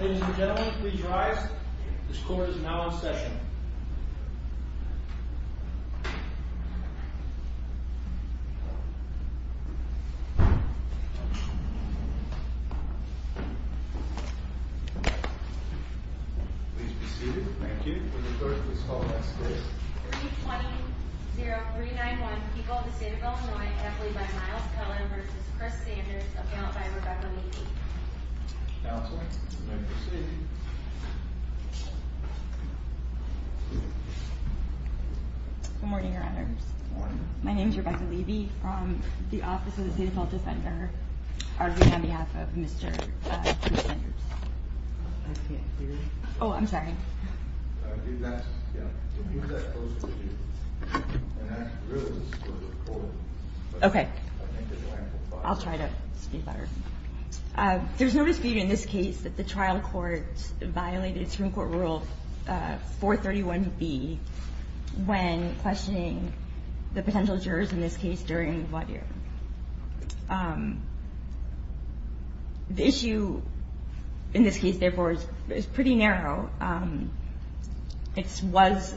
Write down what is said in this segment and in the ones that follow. Ladies and gentlemen, please rise. This court is now in session. Please be seated. Thank you. When you're heard, please call the next case. 320-391, People of the State of Illinois, Appellee by Miles Cullen v. Chris Sanders, Appellant by Rebecca Levy. Counselor, you may proceed. Good morning, Your Honors. Good morning. My name is Rebecca Levy from the Office of the State Appellate Defender, arguing on behalf of Mr. Chris Sanders. I can't hear you. Oh, I'm sorry. Yeah. Okay. I'll try to speak louder. There's no dispute in this case that the trial court violated Supreme Court Rule 431B when questioning the potential jurors in this case during the court hearing. The issue in this case, therefore, is pretty narrow. It was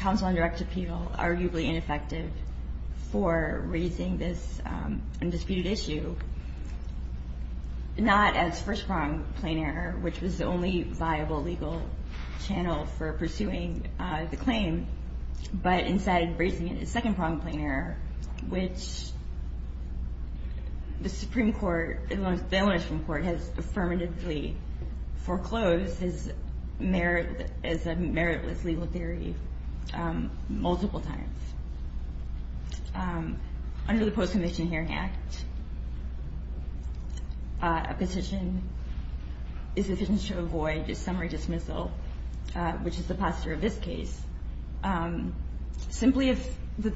counsel on direct appeal, arguably ineffective for raising this undisputed issue, not as first-pronged plain error, which was the only viable legal channel for pursuing the claim, but instead raising it as second-pronged plain error, which the Supreme Court, the Illinois Supreme Court, has affirmatively foreclosed as a meritless legal theory multiple times. Under the Post-Conviction Hearing Act, a petition is sufficient to avoid a summary dismissal, which is the posture of this case, simply if the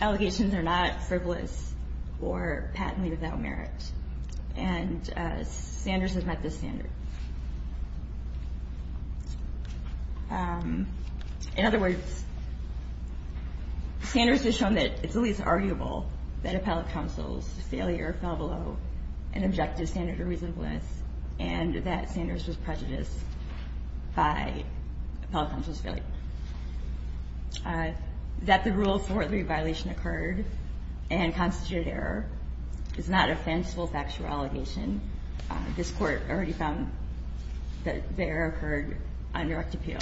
allegations are not frivolous or patently without merit. And Sanders has met this standard. In other words, Sanders has shown that it's at least arguable that appellate counsel's failure fell below an objective standard of reasonableness and that Sanders was prejudiced by appellate counsel's failure. That the Rule 431B violation occurred and constituted error is not a fanciful factual allegation. This Court already found that the error occurred on direct appeal.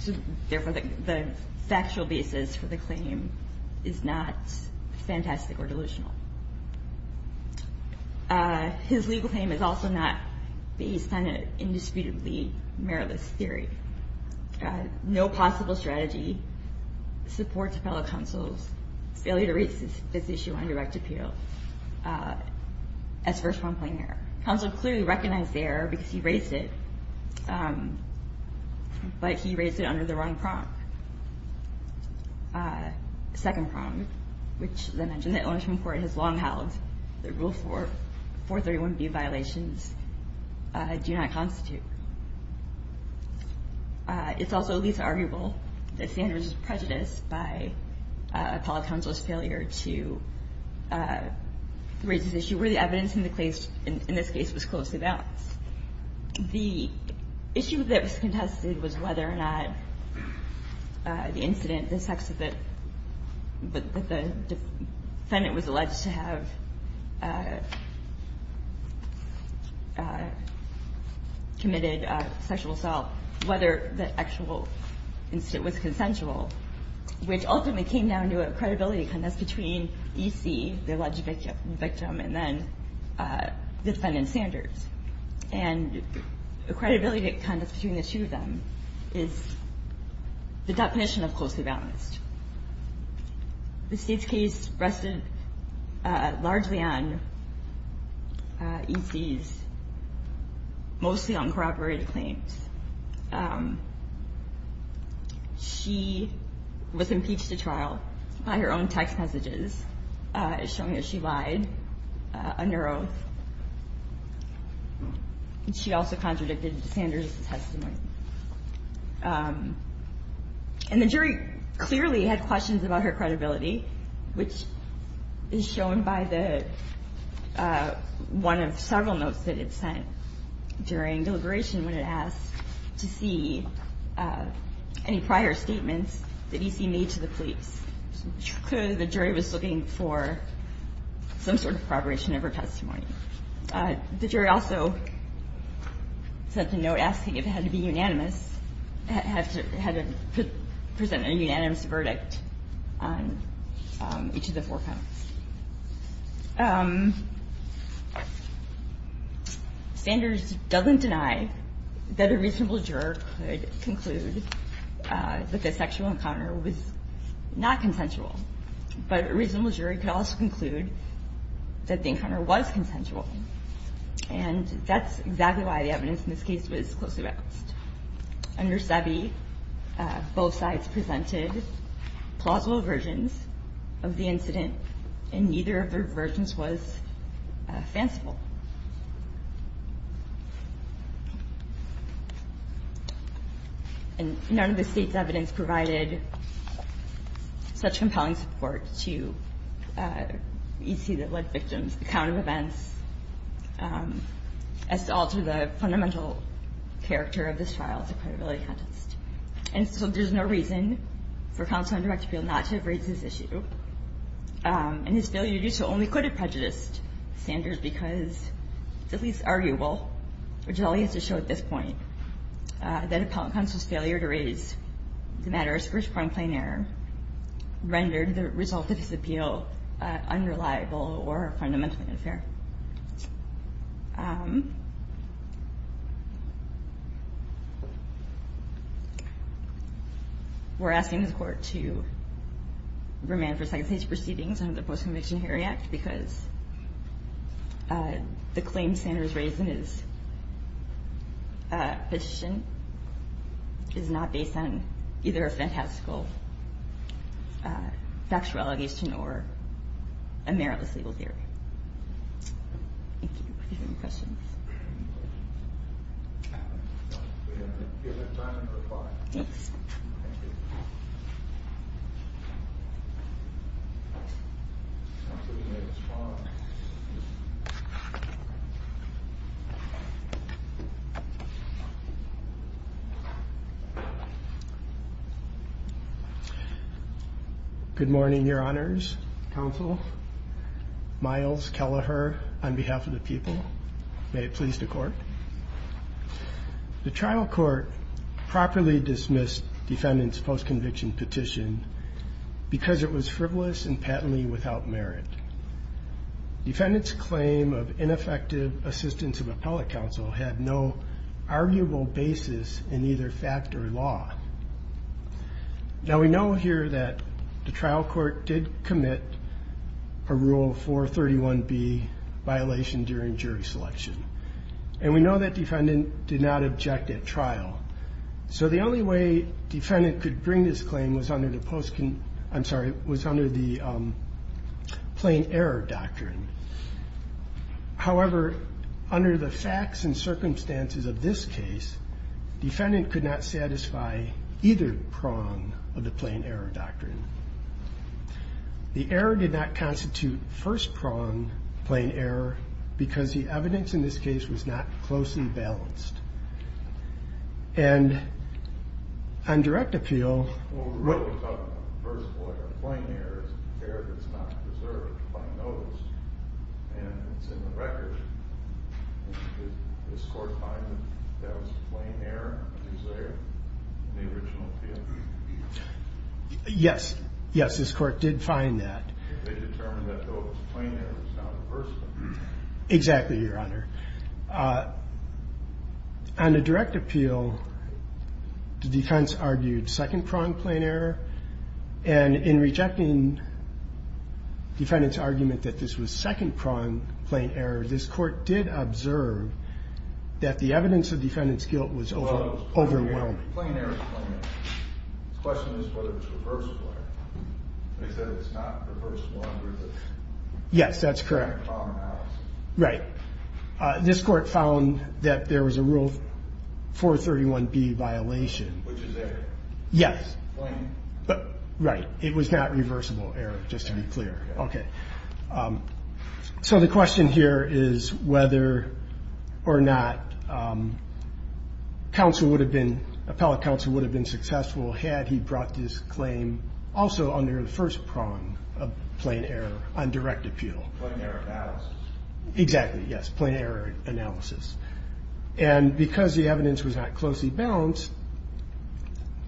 So therefore, the factual basis for the claim is not fantastic or delusional. His legal claim is also not based on an indisputably meritless theory. No possible strategy supports appellate counsel's failure to raise this issue on direct appeal as first prompting error. Counsel clearly recognized the error because he raised it, but he raised it under the wrong prong, second prong, which, as I mentioned, the Elementary Court has long held that Rule 431B violations do not constitute. It's also at least arguable that Sanders was prejudiced by appellate counsel's failure to raise this issue where the evidence in the case, in this case, was closely balanced. The issue that was contested was whether or not the incident, the sex of the defendant was alleged to have committed sexual assault, whether the actual incident was consensual, which ultimately came down to a credibility contest between E.C., the alleged victim, and then the defendant, Sanders. And the credibility contest between the two of them is the definition of closely balanced. The State's case rested largely on E.C.'s, mostly on corroborated claims. She was impeached at trial by her own text messages, showing that she lied under oath. She also contradicted Sanders' testimony. And the jury clearly had questions about her credibility, which is shown by the one of several notes that it sent during deliberation when it asked to see any prior statements that E.C. made to the police. Clearly, the jury was looking for some sort of corroboration of her testimony. The jury also sent a note asking if it had to be unanimous, had to present a unanimous verdict on each of the four counts. Sanders doesn't deny that a reasonable juror could conclude that the sexual encounter was not consensual, but a reasonable jury could also conclude that the encounter was consensual. And that's exactly why the evidence in this case was closely balanced. Under SEBI, both sides presented plausible versions of the incident, and neither of their versions was fanciful. And none of the State's evidence provided such compelling support to E.C. that led victims, the count of events, as to alter the fundamental character of this trial as a credibility contest. And so there's no reason for counsel on direct appeal not to have raised this issue. And his failure to do so only could have prejudiced Sanders because it's at least arguable, which is all he has to show at this point, that counsel's failure to raise the matter as first-pronged plain error rendered the result of his appeal unreliable or fundamentally unfair. We're asking the Court to remand for second-stage proceedings under the Post-Conviction Hearing Act because the claim Sanders raised in his petition is not based on either a fantastical factuality as to nor a meritless legal theory. Thank you. Are there any questions? No. We have a given time for five. Thanks. Thank you. Good morning, Your Honors, counsel. Miles Kelleher on behalf of the people. May it please the Court. The trial court properly dismissed defendant's post-conviction petition because it was frivolous and patently without merit. Defendant's claim of ineffective assistance of appellate counsel had no arguable basis in either fact or law. Now, we know here that the trial court did commit a Rule 431B violation during jury selection, and we know that defendant did not object at trial. So the only way defendant could bring this claim was under the plain error doctrine. However, under the facts and circumstances of this case, defendant could not satisfy either prong of the plain error doctrine. The error did not constitute first prong plain error because the evidence in this case was not closely balanced. And on direct appeal. Yes, yes, this court did find that. On the direct appeal, the defense argued second prong plain error. And in rejecting defendant's argument that this was second prong plain error, this court did observe that the evidence of defendant's guilt was overwhelming. Well, it was plain error. Plain error is plain error. The question is whether it's reversible error. They said it's not reversible error. Yes, that's correct. Right. This court found that there was a Rule 431B violation. Which is error. Yes. Right. It was not reversible error, just to be clear. Okay. So the question here is whether or not counsel would have been, appellate counsel would have been successful had he brought this claim also under the first prong of plain error on direct appeal. Plain error analysis. Exactly. Yes. Plain error analysis. And because the evidence was not closely balanced,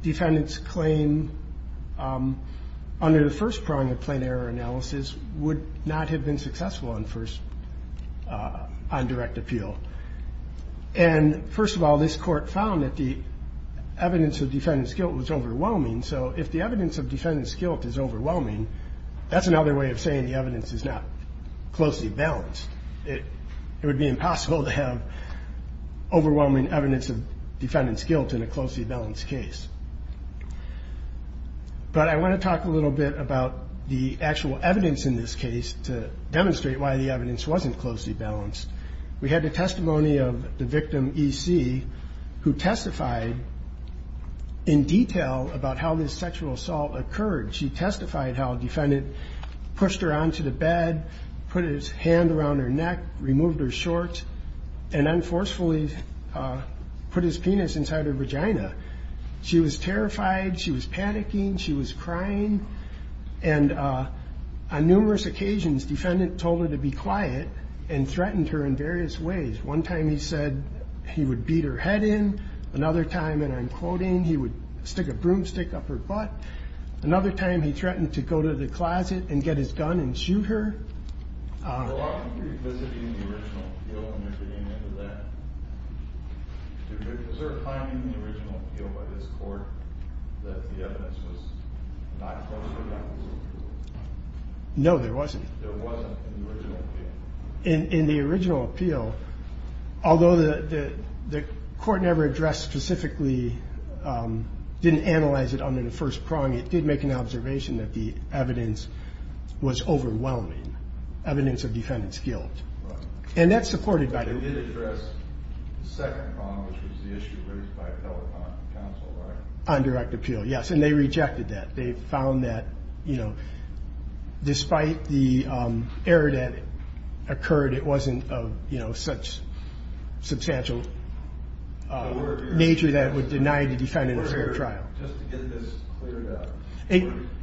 defendant's claim under the first prong of plain error analysis would not have been successful on first, on direct appeal. And, first of all, this court found that the evidence of defendant's guilt was overwhelming. So if the evidence of defendant's guilt is overwhelming, that's another way of saying the evidence is not closely balanced. It would be impossible to have overwhelming evidence of defendant's guilt in a closely balanced case. But I want to talk a little bit about the actual evidence in this case to demonstrate why the evidence wasn't closely balanced. We had the testimony of the victim, E.C., who testified in detail about how this sexual assault occurred. She testified how a defendant pushed her onto the bed, put his hand around her neck, removed her shorts, and then forcefully put his penis inside her vagina. She was terrified. She was panicking. She was crying. And on numerous occasions, defendant told her to be quiet and threatened her in various ways. One time he said he would beat her head in. Another time, and I'm quoting, he would stick a broomstick up her butt. Another time, he threatened to go to the closet and get his gun and shoot her. No, there wasn't. In the original appeal, although the court never addressed specifically, didn't analyze it under the first prong, it did make an observation that the evidence was overwhelming, evidence of defendant's guilt. And that's supported by the rule. It did address the second prong, which was the issue raised by telecon counsel, right? On direct appeal, yes. And they rejected that. They found that, you know, despite the error that occurred, it wasn't of, you know, such substantial nature that it would deny the defendant a fair trial. Just to get this cleared up,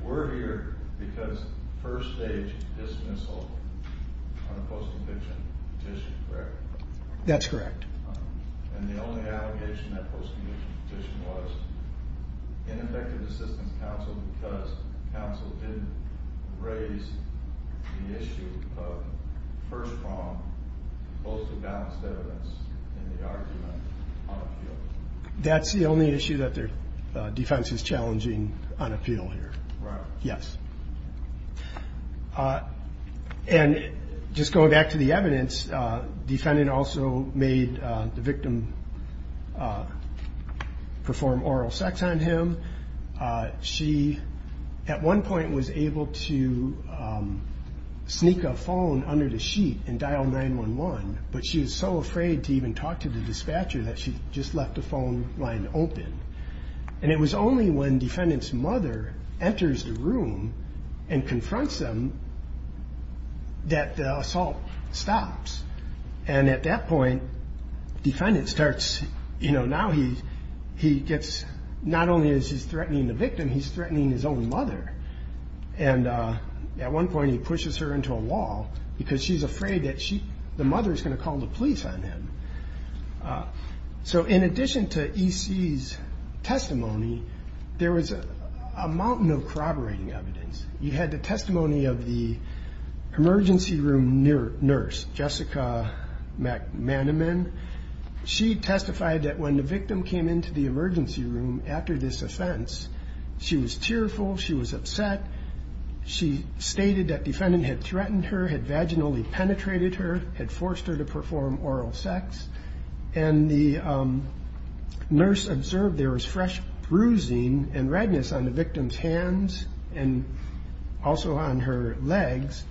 we're here because first stage dismissal on a post-conviction petition, correct? That's correct. And the only allegation that post-conviction petition was ineffective assistance counsel because counsel didn't raise the issue of first prong, close to balanced evidence in the argument on appeal. That's the only issue that defense is challenging on appeal here. Right. Yes. And just going back to the evidence, defendant also made the victim perform oral sex on him. She, at one point, was able to sneak a phone under the sheet and dial 911, but she was so afraid to even talk to the dispatcher that she just left the phone line open. And it was only when defendant's mother enters the room and confronts them that the assault stops. And at that point, defendant starts, you know, now he gets not only is he threatening the victim, he's threatening his own mother. And at one point he pushes her into a wall because she's afraid that the mother is going to call the police on him. So in addition to E.C.'s testimony, there was a mountain of corroborating evidence. You had the testimony of the emergency room nurse, Jessica McManaman. She testified that when the victim came into the emergency room after this offense, she was tearful, she was upset, she stated that defendant had threatened her, had vaginally penetrated her, had forced her to perform oral sex, and the nurse observed there was fresh bruising and redness on the victim's hands and also on her legs.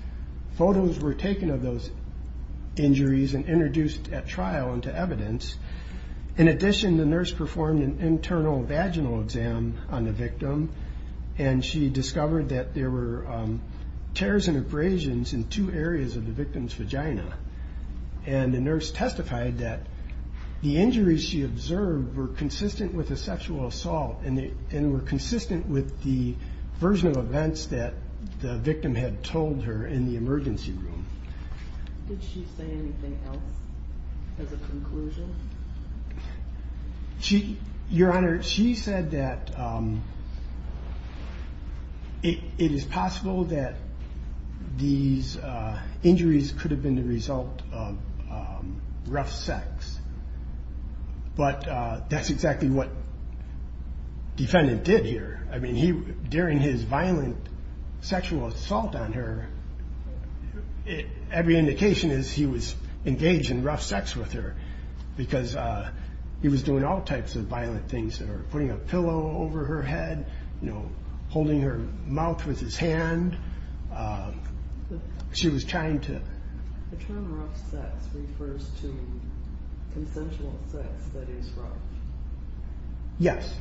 Photos were taken of those injuries and introduced at trial into evidence. In addition, the nurse performed an internal vaginal exam on the victim, and she discovered that there were tears and abrasions in two areas of the victim's vagina. And the nurse testified that the injuries she observed were consistent with a sexual assault and were consistent with the version of events that the victim had told her in the emergency room. Did she say anything else as a conclusion? Your Honor, she said that it is possible that these injuries could have been the result of rough sex, but that's exactly what the defendant did here. I mean, during his violent sexual assault on her, every indication is he was engaged in rough sex with her because he was doing all types of violent things to her, putting a pillow over her head, you know, holding her mouth with his hand. The term rough sex refers to consensual sex that is rough. Yes.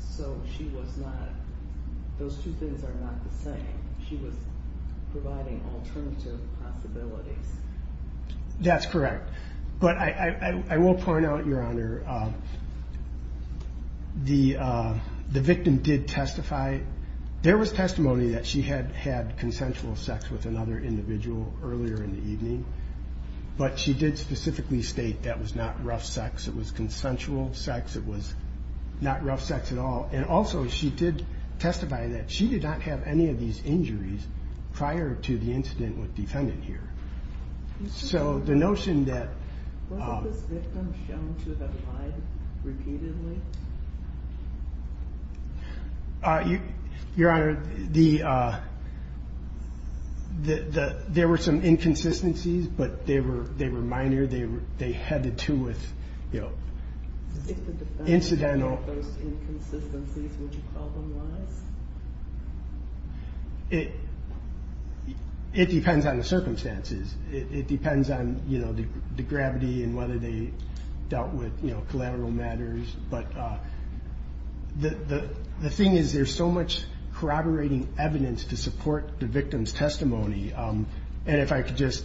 So she was not, those two things are not the same. She was providing alternative possibilities. That's correct. But I will point out, Your Honor, the victim did testify. There was testimony that she had had consensual sex with another individual earlier in the evening, but she did specifically state that was not rough sex. It was consensual sex. It was not rough sex at all. And also she did testify that she did not have any of these injuries prior to the incident with the defendant here. So the notion that... Was this victim shown to have lied repeatedly? Your Honor, there were some inconsistencies, but they were minor. They had to do with, you know, incidental... If the defendant showed those inconsistencies, would you call them lies? It depends on the circumstances. It depends on, you know, the gravity and whether they dealt with, you know, collateral matters. But the thing is there's so much corroborating evidence to support the victim's testimony. And if I could just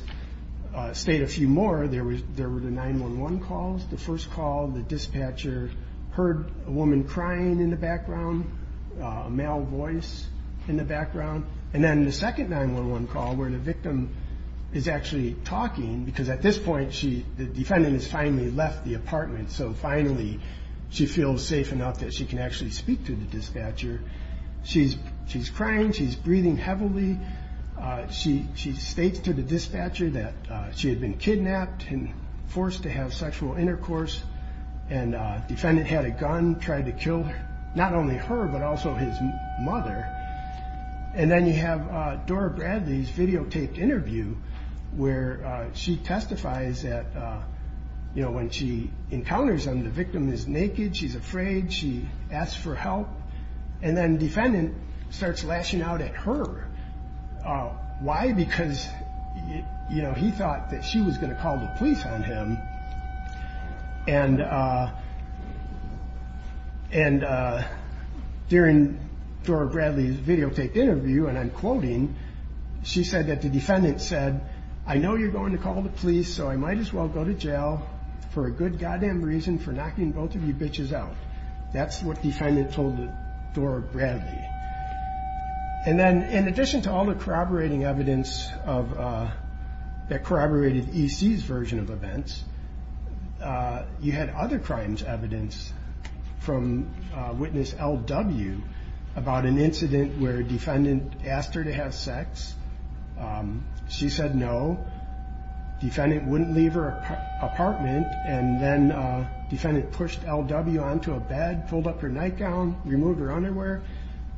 state a few more, there were the 911 calls. The first call, the dispatcher heard a woman crying in the background, a male voice in the background. And then the second 911 call where the victim is actually talking, because at this point the defendant has finally left the apartment, so finally she feels safe enough that she can actually speak to the dispatcher. She's crying. She's breathing heavily. She states to the dispatcher that she had been kidnapped and forced to have sexual intercourse. And the defendant had a gun, tried to kill not only her but also his mother. And then you have Dora Bradley's videotaped interview where she testifies that, you know, when she encounters him, the victim is naked. She's afraid. She asks for help. And then the defendant starts lashing out at her. Why? Because, you know, he thought that she was going to call the police on him. And during Dora Bradley's videotaped interview, and I'm quoting, she said that the defendant said, I know you're going to call the police, so I might as well go to jail for a good goddamn reason, for knocking both of you bitches out. That's what the defendant told Dora Bradley. And then in addition to all the corroborating evidence that corroborated E.C.'s version of events, you had other crimes evidence from witness L.W. about an incident where a defendant asked her to have sex. She said no. Defendant wouldn't leave her apartment. And then defendant pushed L.W. onto a bed, pulled up her nightgown, removed her underwear,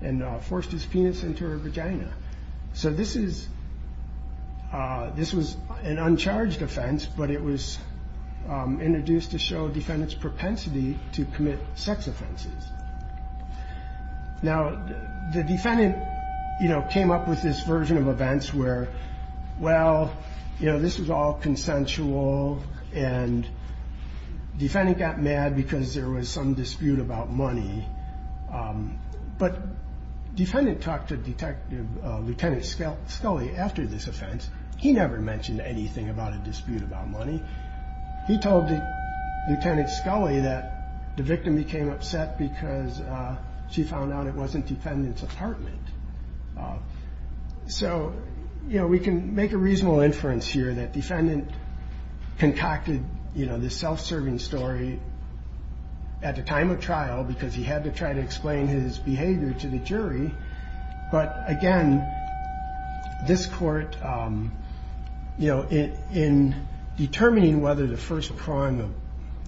and forced his penis into her vagina. So this was an uncharged offense, but it was introduced to show defendant's propensity to commit sex offenses. Now, the defendant, you know, came up with this version of events where, well, you know, this was all consensual, and defendant got mad because there was some dispute about money. But defendant talked to Detective, Lieutenant Scully after this offense. He never mentioned anything about a dispute about money. He told Lieutenant Scully that the victim became upset because she found out it wasn't defendant's apartment. So, you know, we can make a reasonable inference here that defendant concocted, you know, this self-serving story at the time of trial because he had to try to explain his behavior to the jury. But, again, this Court, you know, in determining whether the first prong of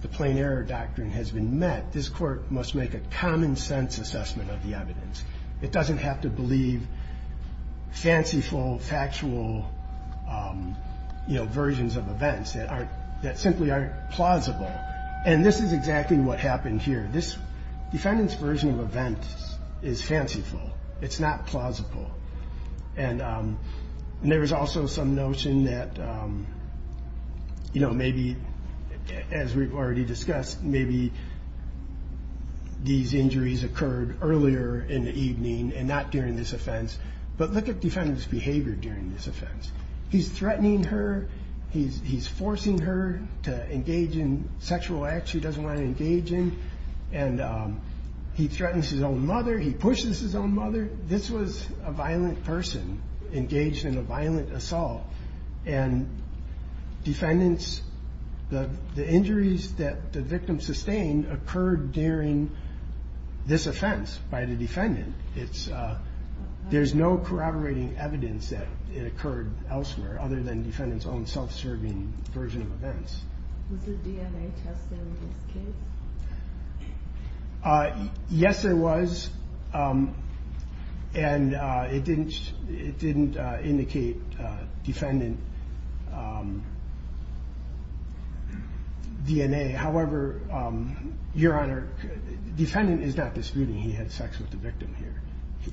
the plain error doctrine has been met, this Court must make a common sense assessment of the evidence. It doesn't have to believe fanciful, factual, you know, versions of events that simply aren't plausible. And this is exactly what happened here. This defendant's version of events is fanciful. It's not plausible. And there was also some notion that, you know, maybe, as we've already discussed, maybe these injuries occurred earlier in the evening and not during this offense. But look at defendant's behavior during this offense. He's threatening her. He's forcing her to engage in sexual acts she doesn't want to engage in. And he threatens his own mother. He pushes his own mother. This was a violent person engaged in a violent assault. And defendants, the injuries that the victim sustained occurred during this offense by the defendant. There's no corroborating evidence that it occurred elsewhere other than defendant's own self-serving version of events. Was there DNA testing in this case? Yes, there was. And it didn't indicate defendant DNA. However, Your Honor, defendant is not disputing he had sex with the victim here.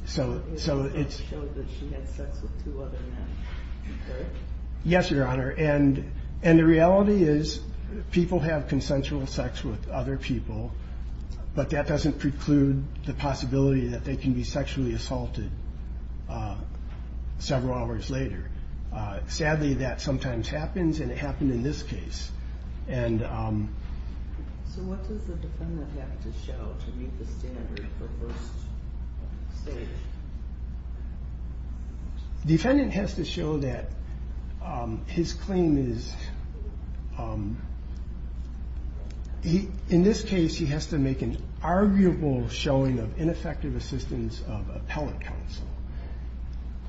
So it shows that she had sex with two other men. Correct? Yes, Your Honor. And the reality is people have consensual sex with other people, but that doesn't preclude the possibility that they can be sexually assaulted several hours later. Sadly, that sometimes happens, and it happened in this case. So what does the defendant have to show to meet the standard for first stage? Defendant has to show that his claim is, in this case, he has to make an arguable showing of ineffective assistance of appellate counsel.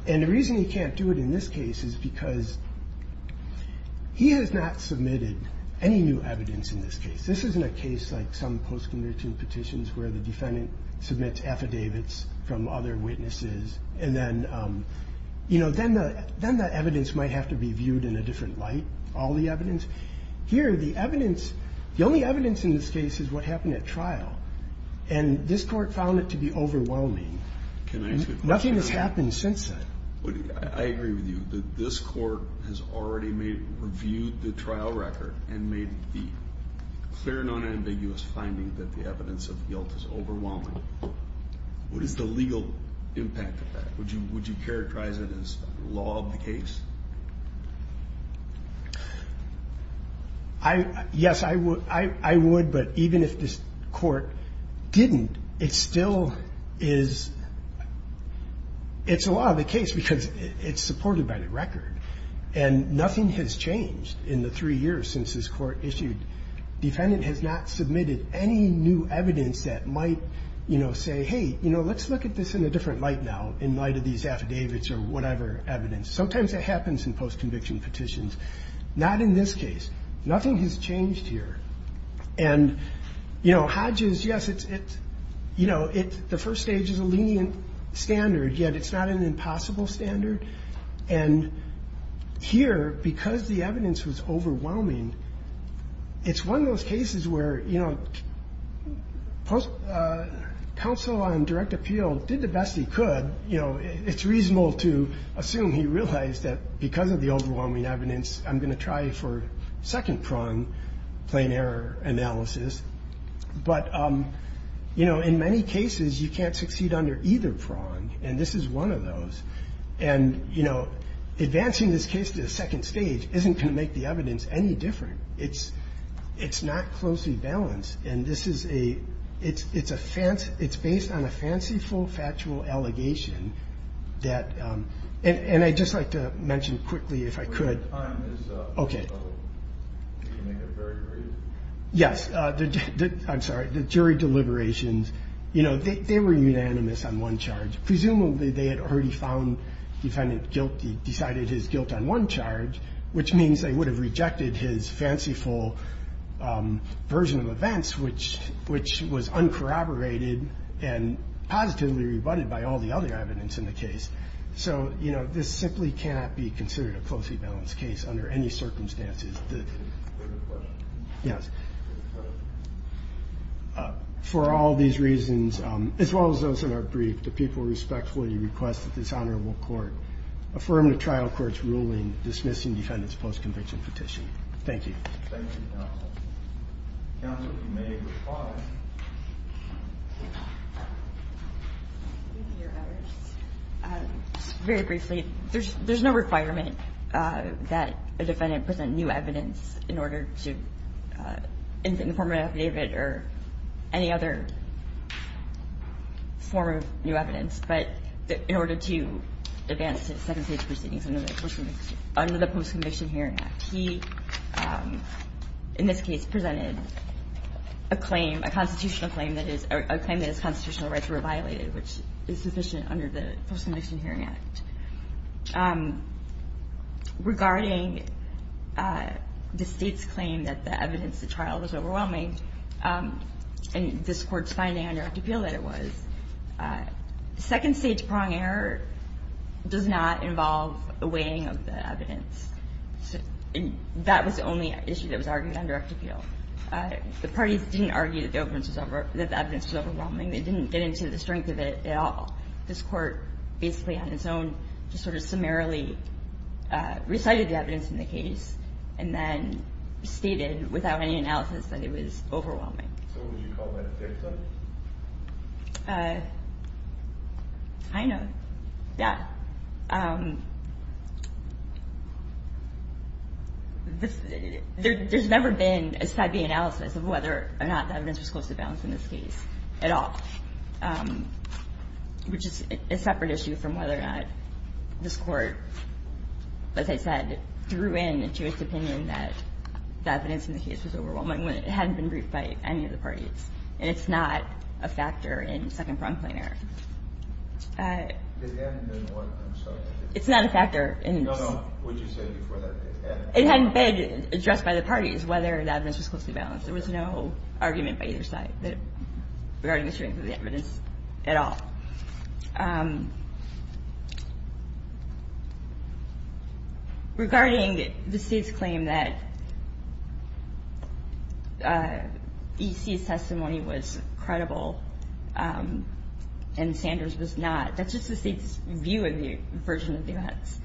And the reason he can't do it in this case is because he has not submitted any new evidence in this case. This isn't a case like some post-conviction petitions where the defendant submits affidavits from other witnesses, and then, you know, then the evidence might have to be viewed in a different light, all the evidence. Here, the evidence, the only evidence in this case is what happened at trial. And this Court found it to be overwhelming. Nothing has happened since then. I agree with you. But this Court has already reviewed the trial record and made the clear, non-ambiguous finding that the evidence of guilt is overwhelming. What is the legal impact of that? Would you characterize it as law of the case? Yes, I would, but even if this Court didn't, it still is. It's a law of the case because it's supported by the record. And nothing has changed in the three years since this Court issued. Defendant has not submitted any new evidence that might, you know, say, hey, you know, let's look at this in a different light now, in light of these affidavits or whatever evidence. Sometimes that happens in post-conviction petitions. Not in this case. Nothing has changed here. And, you know, Hodges, yes, it's, you know, the first stage is a lenient standard, yet it's not an impossible standard. And here, because the evidence was overwhelming, it's one of those cases where, you know, counsel on direct appeal did the best he could. You know, it's reasonable to assume he realized that because of the overwhelming evidence, I'm going to try for second prong plain error analysis. But, you know, in many cases, you can't succeed under either prong, and this is one of those. And, you know, advancing this case to the second stage isn't going to make the evidence any different. It's not closely balanced. And this is a – it's a – it's based on a fanciful, factual allegation that – And I'd just like to mention quickly, if I could. Okay. Yes. I'm sorry. The jury deliberations, you know, they were unanimous on one charge. Presumably they had already found defendant guilty, decided his guilt on one charge, which means they would have rejected his fanciful version of events, which was uncorroborated and positively rebutted by all the other evidence in the case. So, you know, this simply cannot be considered a closely balanced case under any circumstances. Yes. For all these reasons, as well as those that are briefed, the people respectfully request that this honorable court affirm the trial court's ruling dismissing defendant's post-conviction petition. Thank you. Thank you, counsel. Counsel, if you may reply. Very briefly, there's no requirement that a defendant present new evidence in order to – in the form of an affidavit or any other form of new evidence. But in order to advance to second-stage proceedings under the Post-Conviction Hearing Act, he, in this case, presented a claim, a constitutional claim, a claim that his constitutional rights were violated, which is sufficient under the Post-Conviction Hearing Act. Regarding the State's claim that the evidence at trial was overwhelming and this Court's finding on direct appeal that it was, second-stage prong error does not involve a weighing of the evidence. That was the only issue that was argued on direct appeal. The parties didn't argue that the evidence was overwhelming. They didn't get into the strength of it at all. This Court basically on its own just sort of summarily recited the evidence in the case and then stated without any analysis that it was overwhelming. So would you call that a fair claim? Kind of. Yeah. There's never been a side-by-side analysis of whether or not the evidence was close to balance in this case at all, which is a separate issue from whether or not this Court, as I said, threw in a judge's opinion that the evidence in the case was overwhelming when it hadn't been briefed by any of the parties. And it's not a factor in second prong claim error. I'm sorry. It's not a factor. No, no. What did you say before that? It hadn't been addressed by the parties whether the evidence was close to balance. There was no argument by either side regarding the strength of the evidence at all. Regarding the State's claim that E.C.'s testimony was credible and Sanders was not, that's just the State's view of the version of the evidence.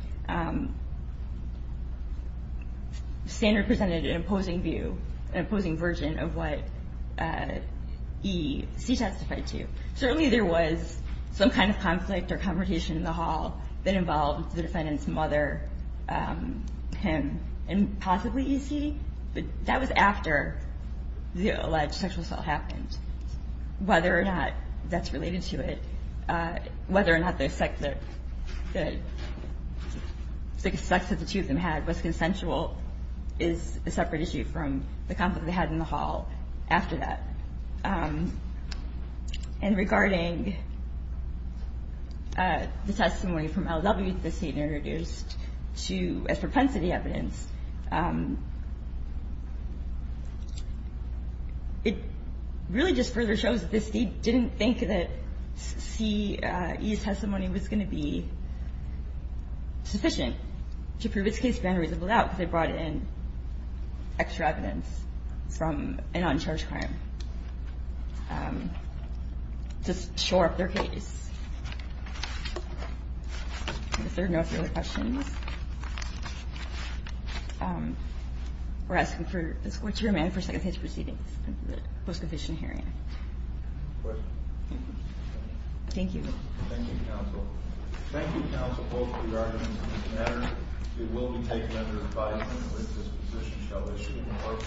Sanders presented an opposing view, an opposing version of what E.C. testified to. Certainly there was some kind of conflict or confrontation in the hall that involved the defendant's mother, him, and possibly E.C. But that was after the alleged sexual assault happened. Whether or not that's related to it, whether or not the sex that the two of them had was consensual is a separate issue from the conflict they had in the hall after that. And regarding the testimony from L.W. that the State introduced as propensity evidence, it really just further shows that the State didn't think that C.E.'s testimony was going to be sufficient to prove its case found reasonable doubt because they brought in extra evidence from an uncharged crime to shore up their case. If there are no further questions, we're asking for the score to be remanded for second case proceedings in the post-conviction hearing. Thank you. Thank you, counsel. Thank you, counsel, both for your arguments on this matter. It will be taken under advisement that this position shall be issued in court.